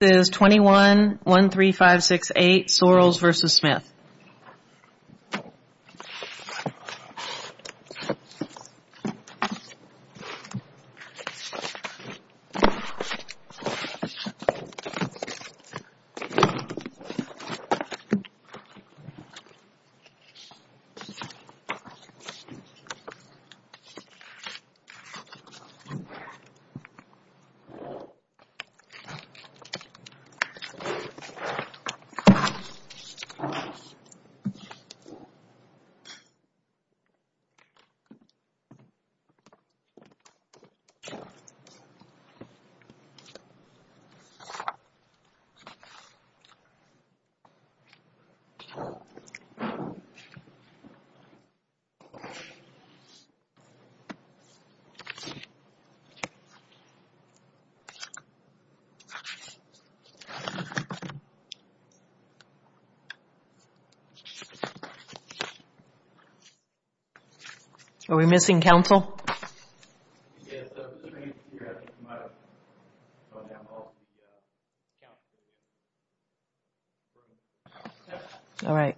This is 21-13568 Sorrells v. Smith This is 21-13568 Sorrells v. Smith Are we missing counsel? All right. All right. All right. All right. All right. All right. All right. All right. All right. All right. All right. All right. All right. All right. All right. All right. All right. All right. All right. All right. All right. All right.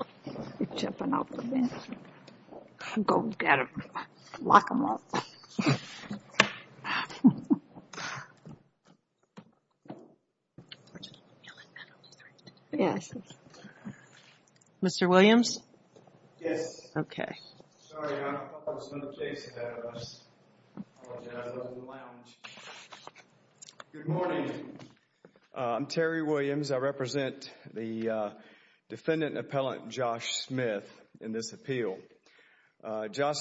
right. All right. Mr. Williams? Yes. Okay. Good morning. I'm Terry Williams. I represent the defendant and appellant Josh Smith in this appeal. Josh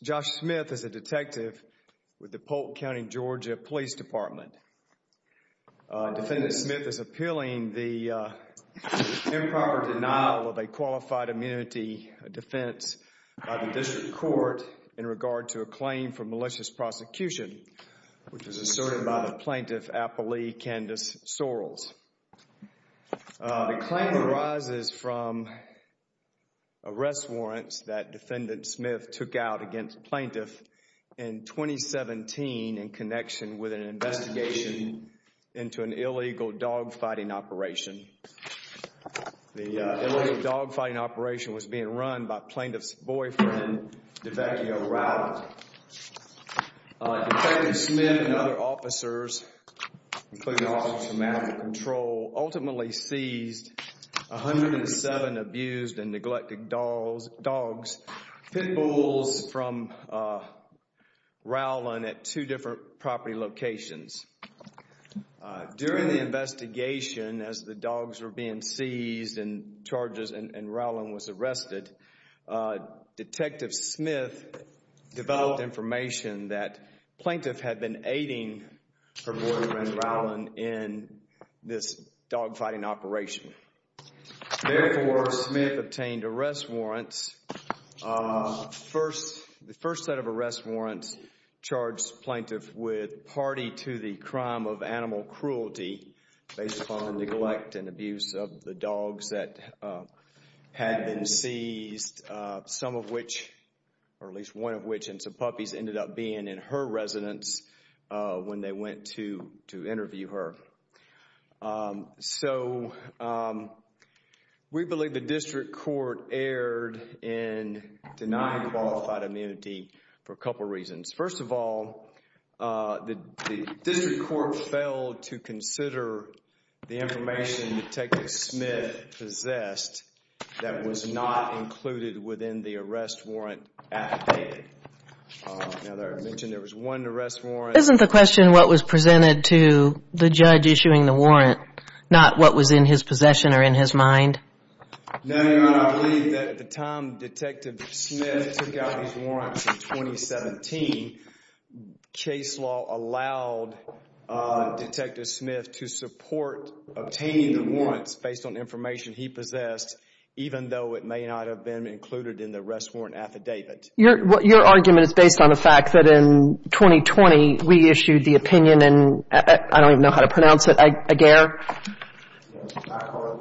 Smith is a detective with the Polk County, Georgia, Police Department. Defendant Smith is appealing the improper denial of a qualified immunity defense by the district court in regard to a claim for malicious prosecution, which was asserted by the plaintiff, took out against the plaintiff in 2017 in connection with an investigation into an illegal dogfighting operation. The illegal dogfighting operation was being run by plaintiff's boyfriend, Devecchio Riley. Detective Smith and other officers, including officers from Animal Control, ultimately seized 107 abused and neglected dogs, pit bulls, from Rowland at two different property locations. During the investigation, as the dogs were being seized and charges and Rowland was arrested, Detective Smith developed information that plaintiff had been aiding her boyfriend Rowland in this dogfighting operation. Therefore, Smith obtained arrest warrants. The first set of arrest warrants charged plaintiff with party to the crime of animal cruelty based upon the neglect and abuse of the dogs that had been seized, some of which, or at least one of which, and some puppies, ended up being in her residence when they went to interview her. So, we believe the district court erred in denying qualified immunity for a couple of reasons. First of all, the district court failed to consider the information Detective Smith possessed that was not included within the arrest warrant at the date. Now, as I mentioned, there was one arrest warrant. Isn't the question what was presented to the judge issuing the warrant, not what was in his possession or in his mind? No, Your Honor, I believe that at the time Detective Smith took out his warrants in 2017, case law allowed Detective Smith to support obtaining the warrants based on information he possessed, even though it may not have been included in the arrest warrant affidavit. Your argument is based on the fact that in 2020, we issued the opinion, and I don't even know how to pronounce it, Aguirre? I call it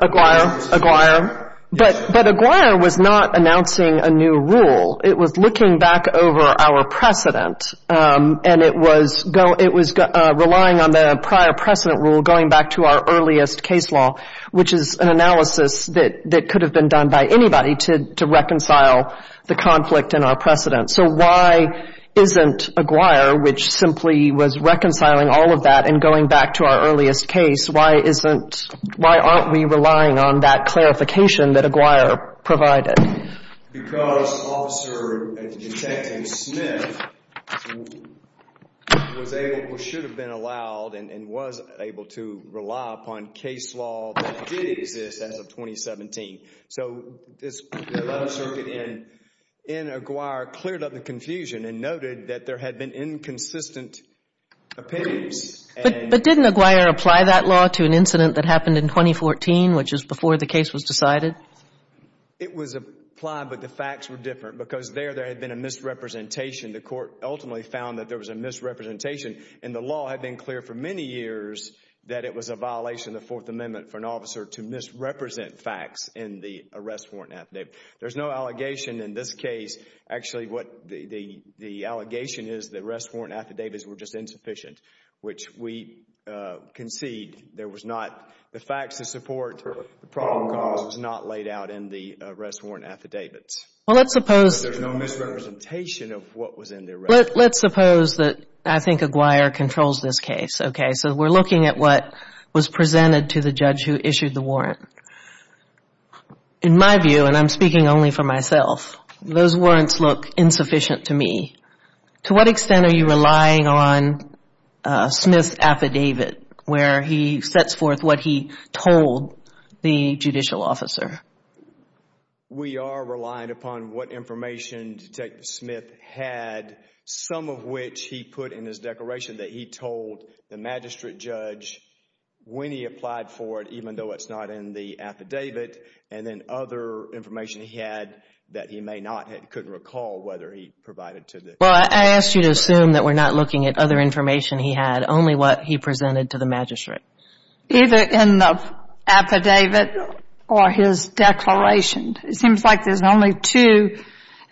Aguirre. Aguirre, Aguirre. But Aguirre was not announcing a new rule. It was looking back over our precedent, and it was relying on the prior precedent rule going back to our earliest case law, which is an analysis that could have been done by anybody to reconcile the conflict in our precedent. So why isn't Aguirre, which simply was reconciling all of that and going back to our earliest case, why aren't we relying on that clarification that Aguirre provided? Because Officer Detective Smith was able, or should have been allowed, and was able to rely upon case law that did exist as of 2017. So this 11th Circuit in Aguirre cleared up the confusion and noted that there had been inconsistent opinions. But didn't Aguirre apply that law to an incident that happened in 2014, which is before the case was decided? It was applied, but the facts were different because there had been a misrepresentation. The court ultimately found that there was a misrepresentation, and the law had been clear for many years that it was a violation of the Fourth Amendment for an officer to misrepresent facts in the arrest warrant affidavit. There's no allegation in this case. Actually, what the allegation is that arrest warrant affidavits were just insufficient, which we concede there was not. The facts to support the problem cause was not laid out in the arrest warrant affidavits. Well, let's suppose there's no misrepresentation of what was in the arrest warrant. Let's suppose that I think Aguirre controls this case. Okay, so we're looking at what was presented to the judge who issued the warrant. In my view, and I'm speaking only for myself, those warrants look insufficient to me. To what extent are you relying on Smith's affidavit where he sets forth what he told the judicial officer? We are relying upon what information Detective Smith had, some of which he put in his declaration that he told the magistrate judge when he applied for it, even though it's not in the affidavit, and then other information he had that he may not have, couldn't recall whether he provided to the judge. Well, I ask you to assume that we're not looking at other information he had, only what he presented to the magistrate. Either in the affidavit or his declaration. It seems like there's only two,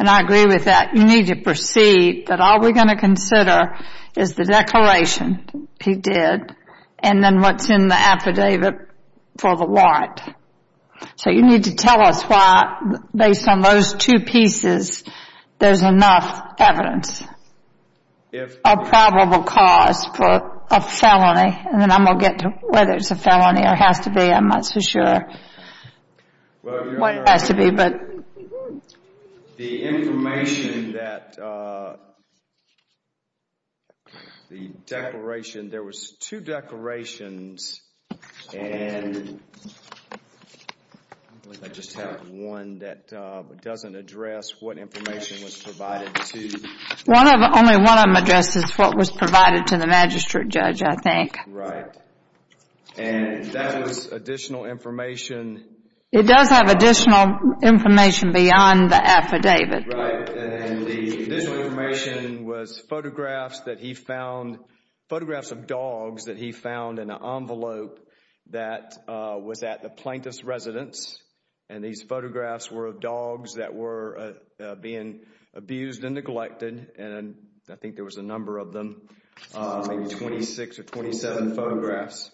and I agree with that. You need to proceed that all we're going to consider is the declaration he did and then what's in the affidavit for the warrant. So you need to tell us why, based on those two pieces, there's enough evidence of probable cause for a felony, and then I'm going to get to whether it's a felony or has to be. I'm not so sure what it has to be. The information that the declaration, there was two declarations, and I just have one that doesn't address what information was provided to. Only one of them addresses what was provided to the magistrate judge, I think. Right. And that was additional information. It does have additional information beyond the affidavit. Right, and the additional information was photographs that he found, photographs of dogs that he found in an envelope that was at the plaintiff's residence, and these photographs were of dogs that were being abused and neglected, and I think there was a number of them, maybe 26 or 27 photographs.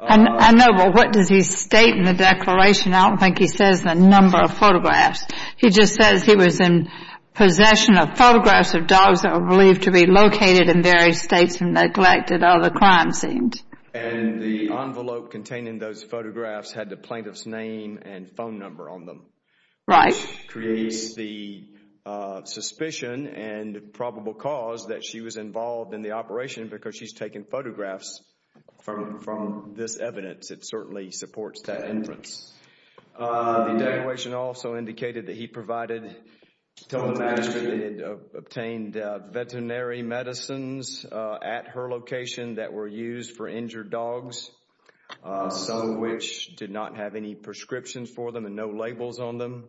I know, but what does he state in the declaration? I don't think he says the number of photographs. He just says he was in possession of photographs of dogs that were believed to be located in various states and neglected other crime scenes. And the envelope containing those photographs had the plaintiff's name and phone number on them. Right. Which creates the suspicion and probable cause that she was involved in the operation because she's taken photographs from this evidence. It certainly supports that inference. The declaration also indicated that he provided to the magistrate and obtained veterinary medicines at her location that were used for injured dogs, some of which did not have any prescriptions for them and no labels on them.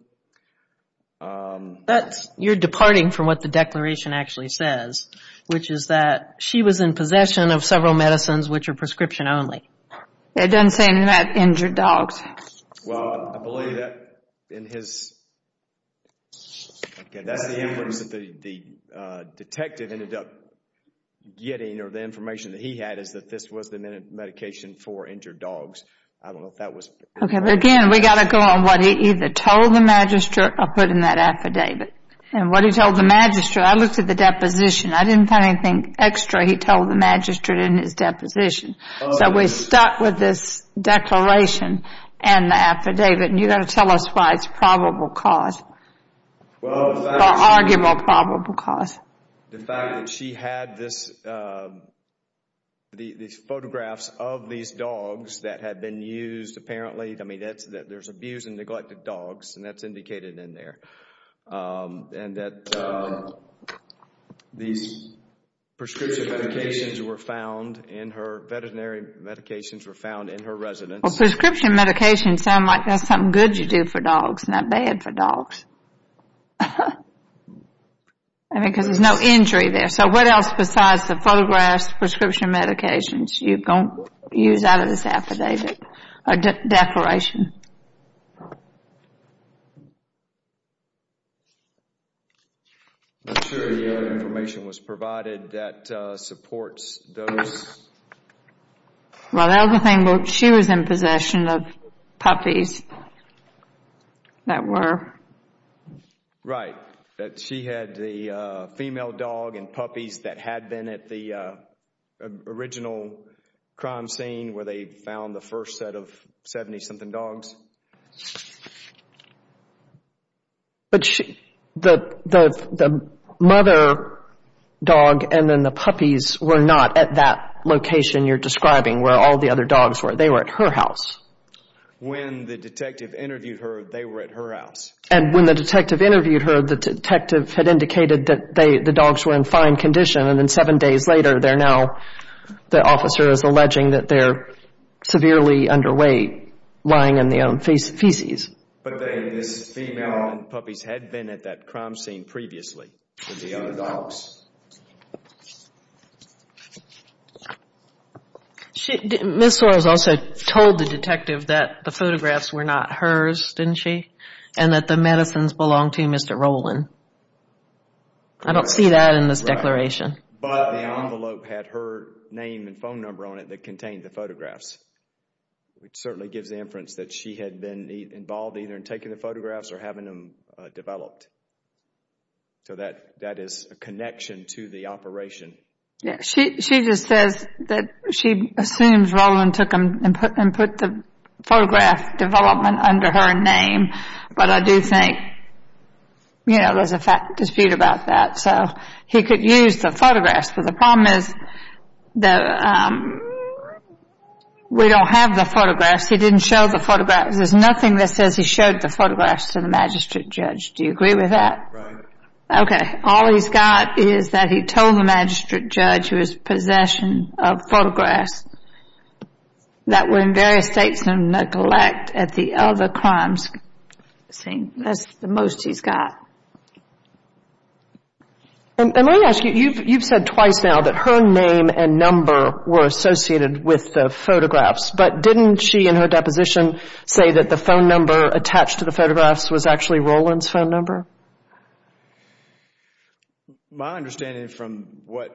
You're departing from what the declaration actually says, which is that she was in possession of several medicines which are prescription only. It doesn't say anything about injured dogs. Well, I believe that in his... That's the inference that the detective ended up getting, or the information that he had is that this was the medication for injured dogs. I don't know if that was... Again, we've got to go on what he either told the magistrate or put in that affidavit. And what he told the magistrate, I looked at the deposition. I didn't find anything extra he told the magistrate in his deposition. So we're stuck with this declaration and the affidavit, and you've got to tell us why it's probable cause or arguable probable cause. The fact that she had these photographs of these dogs that had been used apparently. I mean, there's abused and neglected dogs, and that's indicated in there. And that these prescription medications were found in her, veterinary medications were found in her residence. Well, prescription medications sound like that's something good you do for dogs, not bad for dogs. I mean, because there's no injury there. So what else besides the photographs, prescription medications, you don't use out of this affidavit or declaration? I'm not sure the other information was provided that supports those. Well, the other thing, she was in possession of puppies that were. Right. She had the female dog and puppies that had been at the original crime scene where they found the first set of 70-something dogs. But the mother dog and then the puppies were not at that location you're describing where all the other dogs were. They were at her house. When the detective interviewed her, they were at her house. And when the detective interviewed her, the detective had indicated that the dogs were in fine condition, and then seven days later they're now, the officer is alleging that they're severely underweight, lying in their own feces. But this female and puppies had been at that crime scene previously with the other dogs. Ms. Soares also told the detective that the photographs were not hers, didn't she, and that the medicines belonged to Mr. Rowland. I don't see that in this declaration. But the envelope had her name and phone number on it that contained the photographs. It certainly gives the inference that she had been involved either in taking the photographs or having them developed. So that is a connection to the operation. Yeah. She just says that she assumes Rowland took them and put the photograph development under her name. But I do think, you know, there's a dispute about that. So he could use the photographs. But the problem is that we don't have the photographs. He didn't show the photographs. There's nothing that says he showed the photographs to the magistrate judge. Do you agree with that? Right. Okay. All he's got is that he told the magistrate judge it was possession of photographs that were in various states of neglect at the other crimes scene. That's the most he's got. And let me ask you. You've said twice now that her name and number were associated with the photographs. But didn't she in her deposition say that the phone number attached to the photographs was actually Rowland's phone number? My understanding from what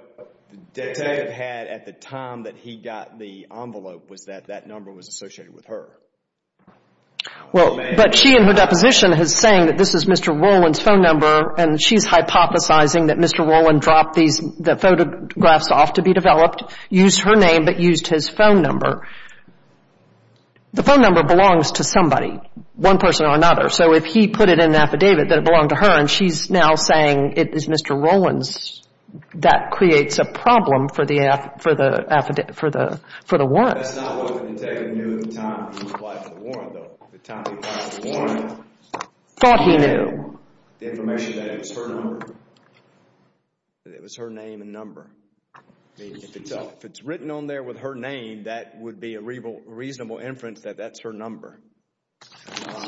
Dave had at the time that he got the envelope was that that number was associated with her. Well, but she in her deposition is saying that this is Mr. Rowland's phone number and she's hypothesizing that Mr. Rowland dropped the photographs off to be developed, used her name, but used his phone number. The phone number belongs to somebody, one person or another. So if he put it in an affidavit that it belonged to her and she's now saying it is Mr. Rowland's, that creates a problem for the one. That's not what the detective knew at the time he applied for the warrant, though. At the time he applied for the warrant, he knew the information that it was her number. It was her name and number. If it's written on there with her name, that would be a reasonable inference that that's her number.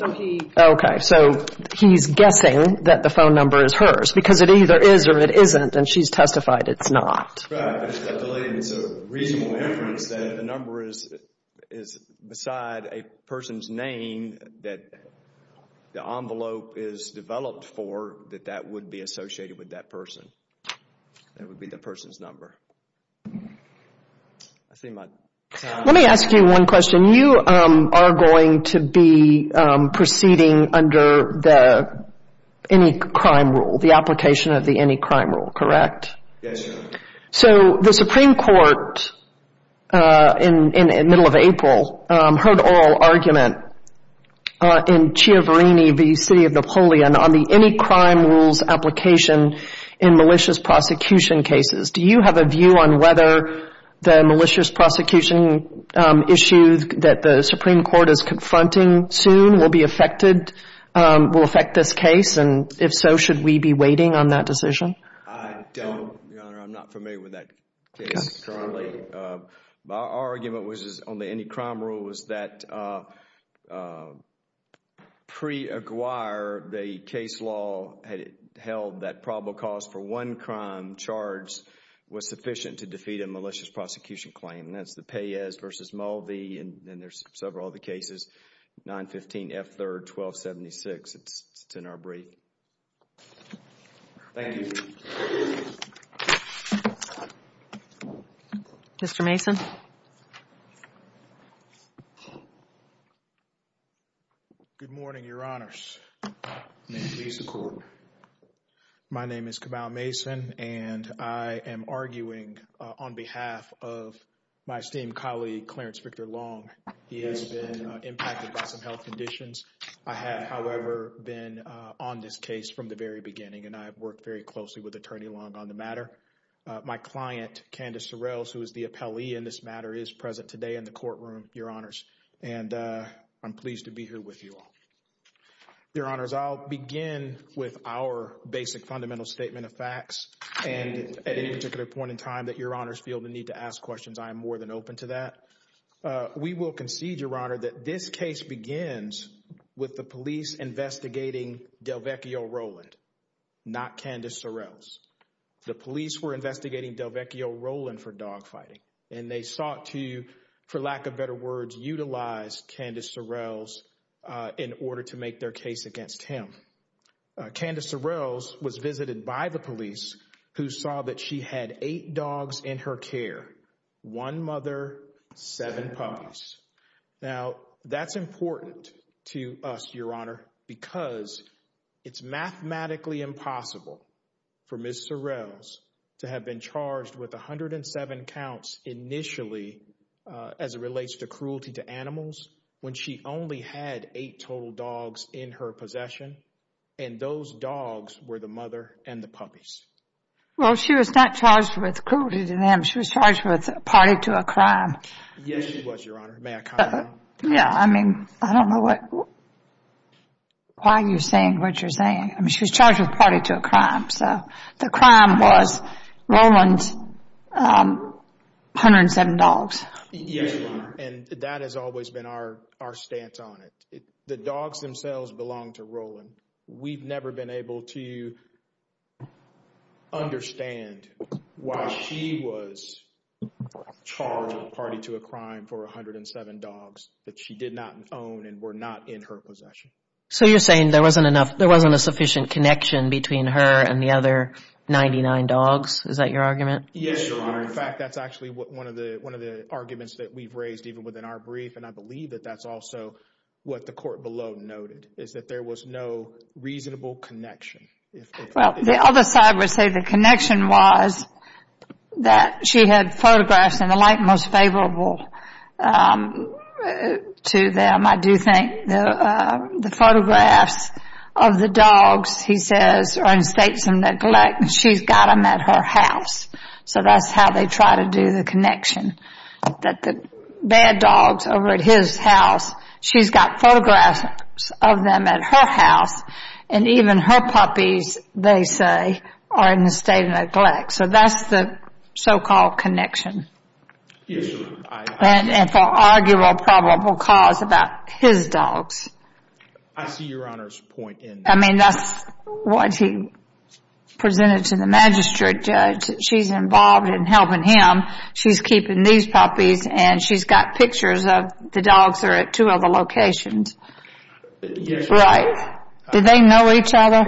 Okay, so he's guessing that the phone number is hers because it either is or it isn't, and she's testified it's not. That's right. It's a reasonable inference that if the number is beside a person's name that the envelope is developed for, that that would be associated with that person. That would be the person's number. Let me ask you one question. You are going to be proceeding under the any crime rule, the application of the any crime rule, correct? Yes, Your Honor. So the Supreme Court in the middle of April heard oral argument in Chiaverini v. City of Napoleon on the any crime rules application in malicious prosecution cases. Do you have a view on whether the malicious prosecution issues that the Supreme Court is confronting soon will affect this case, and if so, should we be waiting on that decision? I don't, Your Honor. I'm not familiar with that case currently. Our argument was on the any crime rule was that pre-Aguirre, the case law had held that probable cause for one crime charge was sufficient to defeat a malicious prosecution claim. And that's the Peyes v. Mulvey, and there's several other cases, 915 F. 3rd, 1276. It's in our brief. Thank you. Mr. Mason. Good morning, Your Honors. May it please the Court. My name is Cabal Mason, and I am arguing on behalf of my esteemed colleague, Clarence Victor Long. He has been impacted by some health conditions. I have, however, been on this case from the very beginning, and I have worked very closely with Attorney Long on the matter. My client, Candace Sorrells, who is the appellee in this matter, is present today in the courtroom, Your Honors. And I'm pleased to be here with you all. Your Honors, I'll begin with our basic fundamental statement of facts. And at any particular point in time that Your Honors feel the need to ask questions, I am more than open to that. We will concede, Your Honor, that this case begins with the police investigating Delvecchio Rowland, not Candace Sorrells. The police were investigating Delvecchio Rowland for dogfighting, and they sought to, for lack of better words, utilize Candace Sorrells in order to make their case against him. Candace Sorrells was visited by the police, who saw that she had eight dogs in her care, one mother, seven puppies. Now, that's important to us, Your Honor, because it's mathematically impossible for Ms. Sorrells to have been charged with 107 counts initially as it relates to cruelty to animals when she only had eight total dogs in her possession, Well, she was not charged with cruelty to them. She was charged with party to a crime. Yes, she was, Your Honor. May I comment on that? Yeah, I mean, I don't know why you're saying what you're saying. I mean, she was charged with party to a crime, so the crime was Rowland's 107 dogs. Yes, Your Honor, and that has always been our stance on it. The dogs themselves belong to Rowland. We've never been able to understand why she was charged with party to a crime for 107 dogs that she did not own and were not in her possession. So you're saying there wasn't a sufficient connection between her and the other 99 dogs? Is that your argument? Yes, Your Honor. In fact, that's actually one of the arguments that we've raised even within our brief, and I believe that that's also what the court below noted, is that there was no reasonable connection. Well, the other side would say the connection was that she had photographs in the light most favorable to them. I do think the photographs of the dogs, he says, are in states of neglect, and she's got them at her house. So that's how they try to do the connection, that the bad dogs over at his house, she's got photographs of them at her house, and even her puppies, they say, are in a state of neglect. So that's the so-called connection. Yes, Your Honor. And for arguable probable cause about his dogs. I see Your Honor's point in that. I mean, that's what he presented to the magistrate judge. She's involved in helping him. She's keeping these puppies, and she's got pictures of the dogs that are at two other locations. Yes, Your Honor. Right. Do they know each other?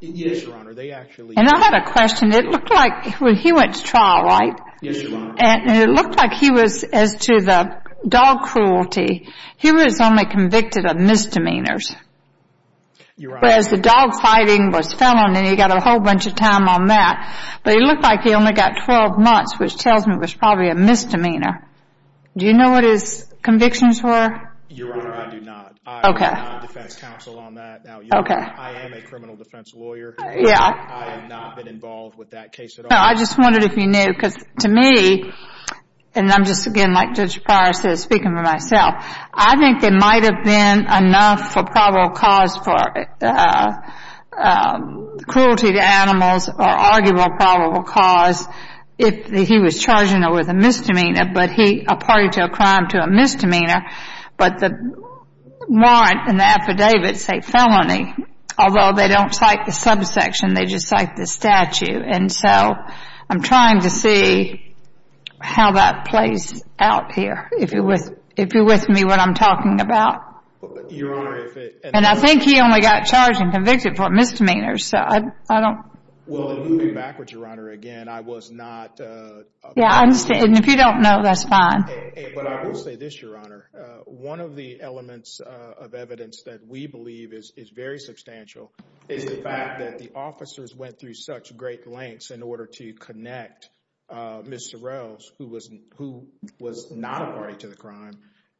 Yes, Your Honor. They actually do. And I had a question. It looked like when he went to trial, right? Yes, Your Honor. And it looked like he was, as to the dog cruelty, he was only convicted of misdemeanors. Whereas the dog fighting was felon, and he got a whole bunch of time on that. But it looked like he only got 12 months, which tells me was probably a misdemeanor. Do you know what his convictions were? Your Honor, I do not. Okay. I am not defense counsel on that. Okay. I am a criminal defense lawyer. Yeah. I have not been involved with that case at all. No, I just wondered if you knew. Because to me, and I'm just, again, like Judge Pryor said, speaking for myself, I think there might have been enough for probable cause for cruelty to animals or arguable probable cause if he was charging her with a misdemeanor, but he appointed her crime to a misdemeanor. But the warrant and the affidavit say felony, although they don't cite the subsection. They just cite the statute. And so I'm trying to see how that plays out here. If you're with me, what I'm talking about. Your Honor, if it. And I think he only got charged and convicted for misdemeanors. So I don't. Well, moving backwards, Your Honor, again, I was not. Yeah, I understand. And if you don't know, that's fine. But I will say this, Your Honor. One of the elements of evidence that we believe is very substantial is the fact that the officers went through such great lengths in order to connect Ms. Sorrells, who was not a party to the crime.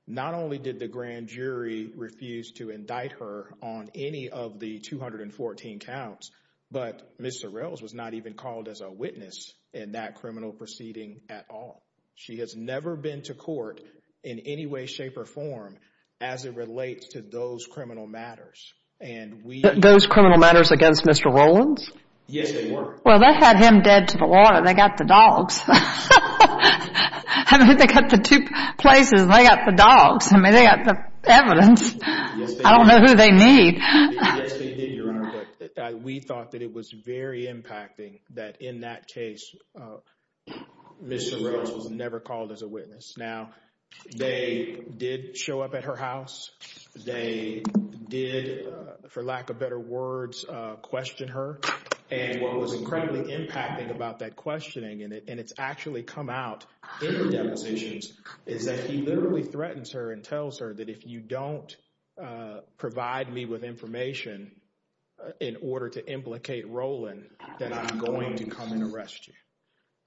Not only did the grand jury refuse to indict her on any of the 214 counts, but Ms. Sorrells was not even called as a witness in that criminal proceeding at all. She has never been to court in any way, shape, or form as it relates to those criminal matters. Those criminal matters against Mr. Rowlands? Yes, they were. Well, they had him dead to the water. They got the dogs. I mean, they got the two places. They got the dogs. I mean, they got the evidence. I don't know who they need. Yes, they did, Your Honor. But we thought that it was very impacting that in that case, Ms. Sorrells was never called as a witness. Now, they did show up at her house. They did, for lack of better words, question her. And what was incredibly impacting about that questioning, and it's actually come out in the depositions, is that he literally threatens her and tells her that if you don't provide me with information in order to implicate Rowland, that I'm going to come and arrest you.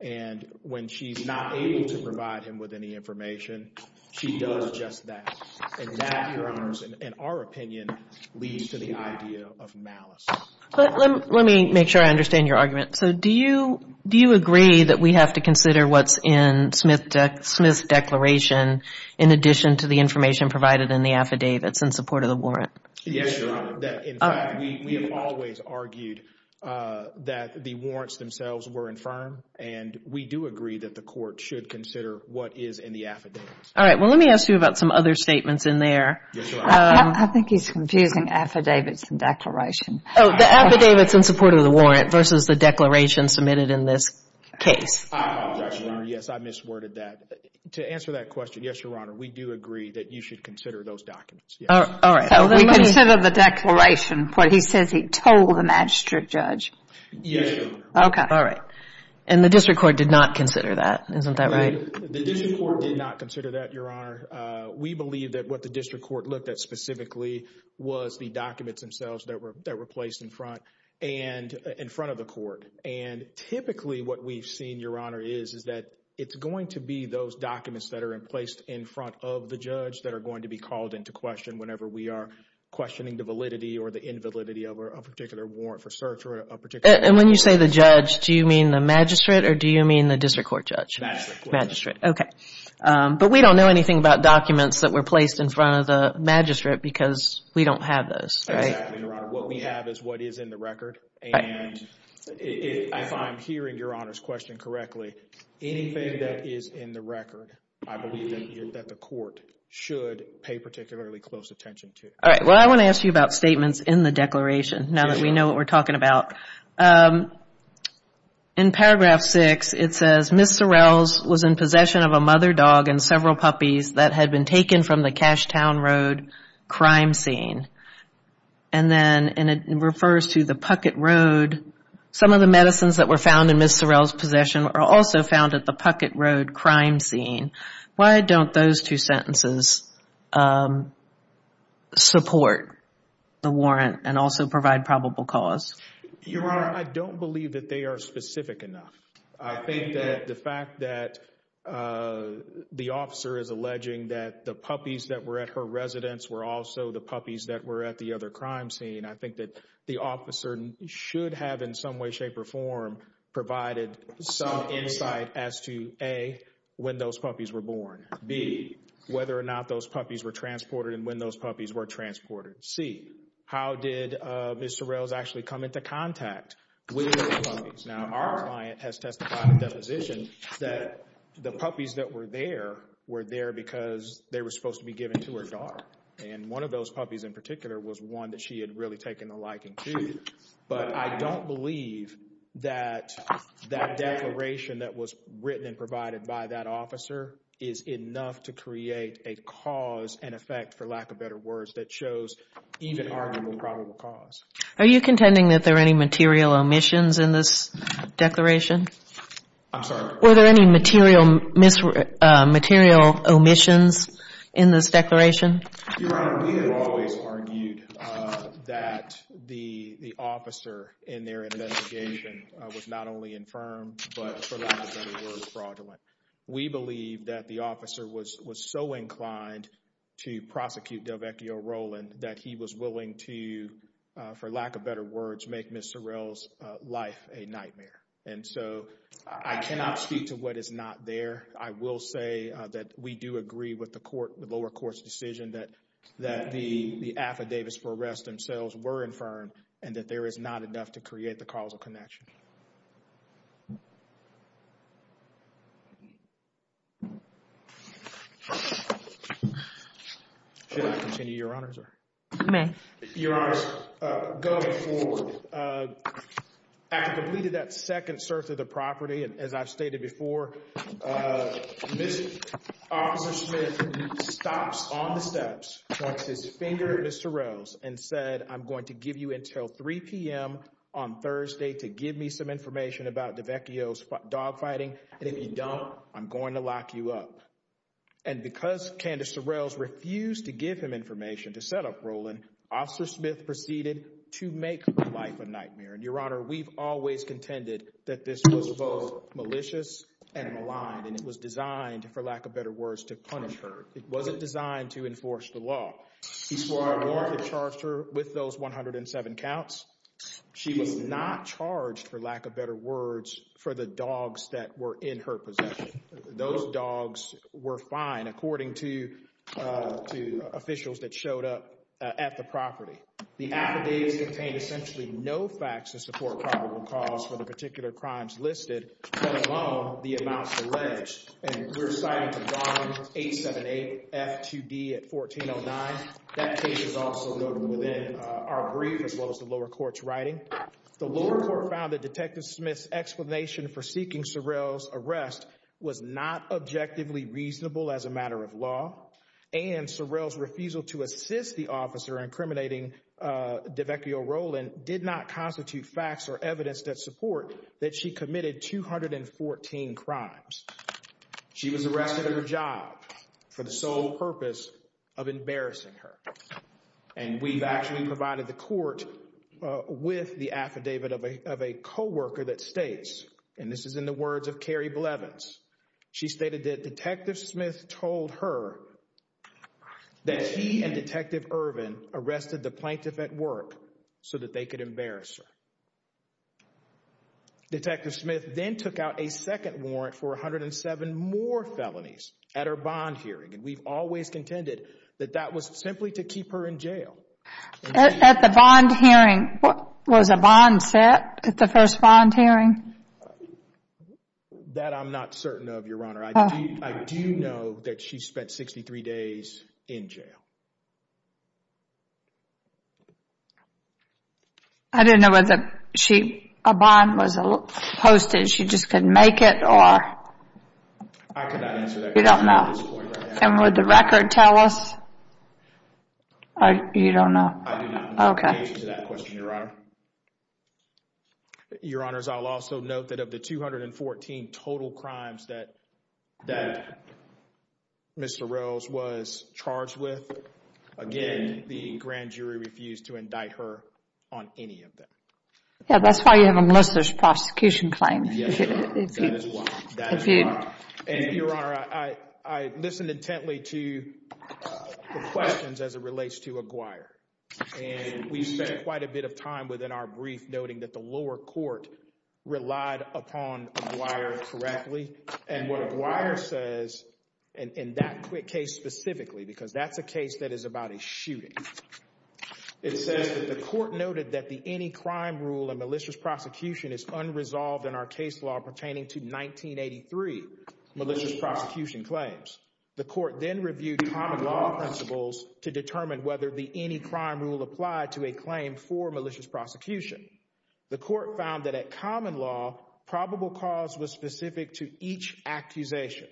And when she's not able to provide him with any information, she does just that. And that, Your Honors, in our opinion, leads to the idea of malice. Let me make sure I understand your argument. So do you agree that we have to consider what's in Smith's declaration in addition to the information provided in the affidavits in support of the warrant? Yes, Your Honor. In fact, we have always argued that the warrants themselves were infirm, and we do agree that the court should consider what is in the affidavits. All right. Well, let me ask you about some other statements in there. I think he's confusing affidavits and declaration. Oh, the affidavits in support of the warrant versus the declaration submitted in this case. Yes, I misworded that. To answer that question, yes, Your Honor, we do agree that you should consider those documents. All right. We consider the declaration, but he says he told the magistrate judge. Yes, Your Honor. Okay. All right. And the district court did not consider that. Isn't that right? The district court did not consider that, Your Honor. We believe that what the district court looked at specifically was the documents themselves that were placed in front of the court. And typically what we've seen, Your Honor, is that it's going to be those documents that are placed in front of the judge that are going to be called into question whenever we are questioning the validity or the invalidity of a particular warrant for search or a particular case. And when you say the judge, do you mean the magistrate, or do you mean the district court judge? Magistrate. Magistrate, okay. But we don't know anything about documents that were placed in front of the magistrate because we don't have those. Exactly, Your Honor. What we have is what is in the record. And if I'm hearing Your Honor's question correctly, anything that is in the record, I believe that the court should pay particularly close attention to. All right. Well, I want to ask you about statements in the declaration now that we know what we're talking about. In paragraph 6, it says, Ms. Sorrells was in possession of a mother dog and several puppies that had been taken from the Cashtown Road crime scene. And then it refers to the Puckett Road. Some of the medicines that were found in Ms. Sorrells' possession are also found at the Puckett Road crime scene. Why don't those two sentences support the warrant and also provide probable cause? Your Honor, I don't believe that they are specific enough. I think that the fact that the officer is alleging that the puppies that were at her residence were also the puppies that were at the other crime scene, I think that the officer should have in some way, shape, or form provided some insight as to, A, when those puppies were born, B, whether or not those puppies were transported and when those puppies were transported, and C, how did Ms. Sorrells actually come into contact with those puppies? Now, our client has testified in deposition that the puppies that were there were there because they were supposed to be given to her dog. And one of those puppies in particular was one that she had really taken a liking to. But I don't believe that that declaration that was written and provided by that officer is enough to create a cause and effect, for lack of better words, that shows even arguable probable cause. Are you contending that there are any material omissions in this declaration? I'm sorry? Were there any material omissions in this declaration? Your Honor, we have always argued that the officer in their investigation was not only infirm, but for lack of better words, fraudulent. We believe that the officer was so inclined to prosecute Delvecchio Rowland that he was willing to, for lack of better words, make Ms. Sorrells' life a nightmare. And so I cannot speak to what is not there. I will say that we do agree with the lower court's decision that the affidavits for arrest themselves were infirm and that there is not enough to create the causal connection. Thank you. Should I continue, Your Honor? You may. Your Honor, going forward, after completing that second search of the property, as I've stated before, Mr. Officer Smith stops on the steps, points his finger at Ms. Sorrells, and said, I'm going to give you until 3 p.m. on Thursday to give me some information about Delvecchio's dogfighting, and if you don't, I'm going to lock you up. And because Candace Sorrells refused to give him information to set up Rowland, Officer Smith proceeded to make her life a nightmare. And, Your Honor, we've always contended that this was both malicious and malign, and it was designed, for lack of better words, to punish her. It wasn't designed to enforce the law. He swore a warrant to charge her with those 107 counts. She was not charged, for lack of better words, for the dogs that were in her possession. Those dogs were fine, according to officials that showed up at the property. The affidavits contained essentially no facts to support probable cause for the particular crimes listed, let alone the amounts alleged. And we're citing the bond 878F2D at 1409. That case is also noted within our brief, as well as the lower court's writing. The lower court found that Detective Smith's explanation for seeking Sorrells' arrest was not objectively reasonable as a matter of law, and Sorrells' refusal to assist the officer in incriminating Delvecchio Rowland did not constitute facts or evidence that support that she committed 214 crimes. She was arrested at her job for the sole purpose of embarrassing her. And we've actually provided the court with the affidavit of a co-worker that states, and this is in the words of Carrie Blevins, she stated that Detective Smith told her that he and Detective Irvin arrested the plaintiff at work so that they could embarrass her. Detective Smith then took out a second warrant for 107 more felonies at her bond hearing, and we've always contended that that was simply to keep her in jail. At the bond hearing, was a bond set at the first bond hearing? That I'm not certain of, Your Honor. I do know that she spent 63 days in jail. I don't know whether a bond was posted, she just couldn't make it, or? I cannot answer that question at this point right now. You don't know? And would the record tell us? You don't know? I do not know the answer to that question, Your Honor. Your Honors, I'll also note that of the 214 total crimes that Mr. Sorrells was charged with, again, the grand jury refused to indict her on any of them. Yeah, that's why you have a malicious prosecution claim. Yes, Your Honor. That is why. That is why. And Your Honor, I listened intently to the questions as it relates to Aguirre, and we spent quite a bit of time within our brief noting that the lower court relied upon Aguirre correctly, and what Aguirre says in that case specifically, because that's a case that is about a shooting. It says that the court noted that the any crime rule in malicious prosecution is unresolved in our case law pertaining to 1983 malicious prosecution claims. The court then reviewed common law principles to determine whether the any crime rule applied to a claim for malicious prosecution. The court found that at common law, probable cause was specific to each accusation.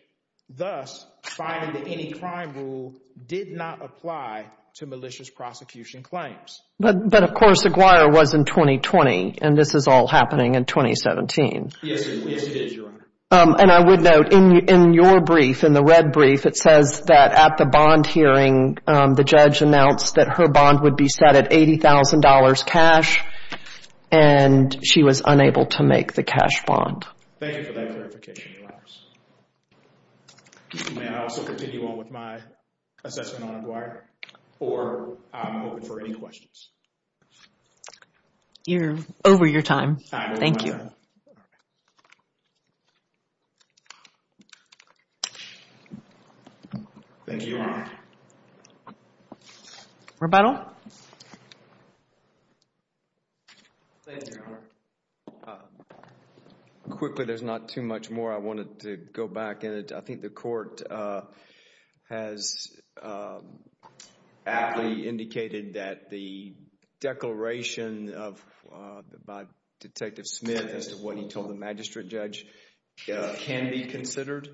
Thus, finding that any crime rule did not apply to malicious prosecution claims. But, of course, Aguirre was in 2020, and this is all happening in 2017. Yes, it is, Your Honor. And I would note in your brief, in the red brief, it says that at the bond hearing, the judge announced that her bond would be set at $80,000 cash, and she was unable to make the cash bond. Thank you for that clarification, Your Honor. May I also continue on with my assessment on Aguirre? Or, I'm open for any questions. You're over your time. Thank you. Thank you, Your Honor. Rebuttal? Thank you, Your Honor. Quickly, there's not too much more I wanted to go back into. I think the court has aptly indicated that the declaration by Detective Smith as to what he told the magistrate judge can be considered.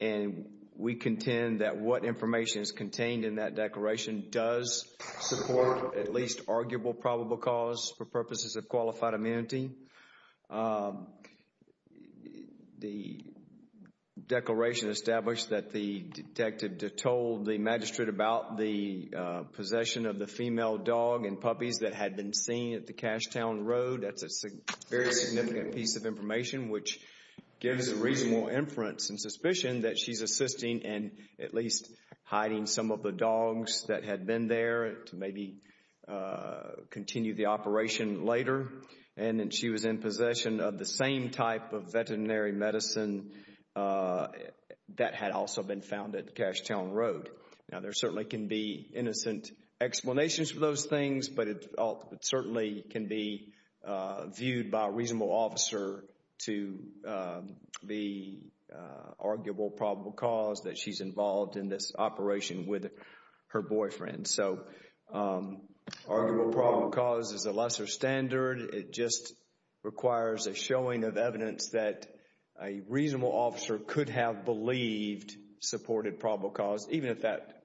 And we contend that what information is contained in that declaration does support at least arguable probable cause for purposes of qualified amenity. The declaration established that the detective told the magistrate about the possession of the female dog and puppies that had been seen at the Cashtown Road. That's a very significant piece of information, which gives a reasonable inference and suspicion that she's assisting in at least hiding some of the dogs that had been there to maybe continue the operation later. And that she was in possession of the same type of veterinary medicine that had also been found at Cashtown Road. Now, there certainly can be innocent explanations for those things, but it certainly can be viewed by a reasonable officer to be arguable probable cause that she's involved in this operation with her boyfriend. So, arguable probable cause is a lesser standard. It just requires a showing of evidence that a reasonable officer could have believed supported probable cause, even if that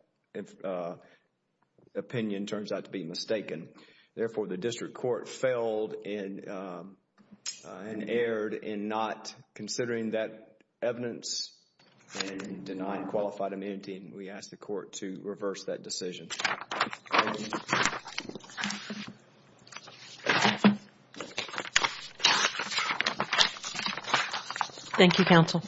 opinion turns out to be mistaken. Therefore, the district court failed and erred in not considering that evidence and denying qualified amenity. We ask the court to reverse that decision. Thank you, counsel.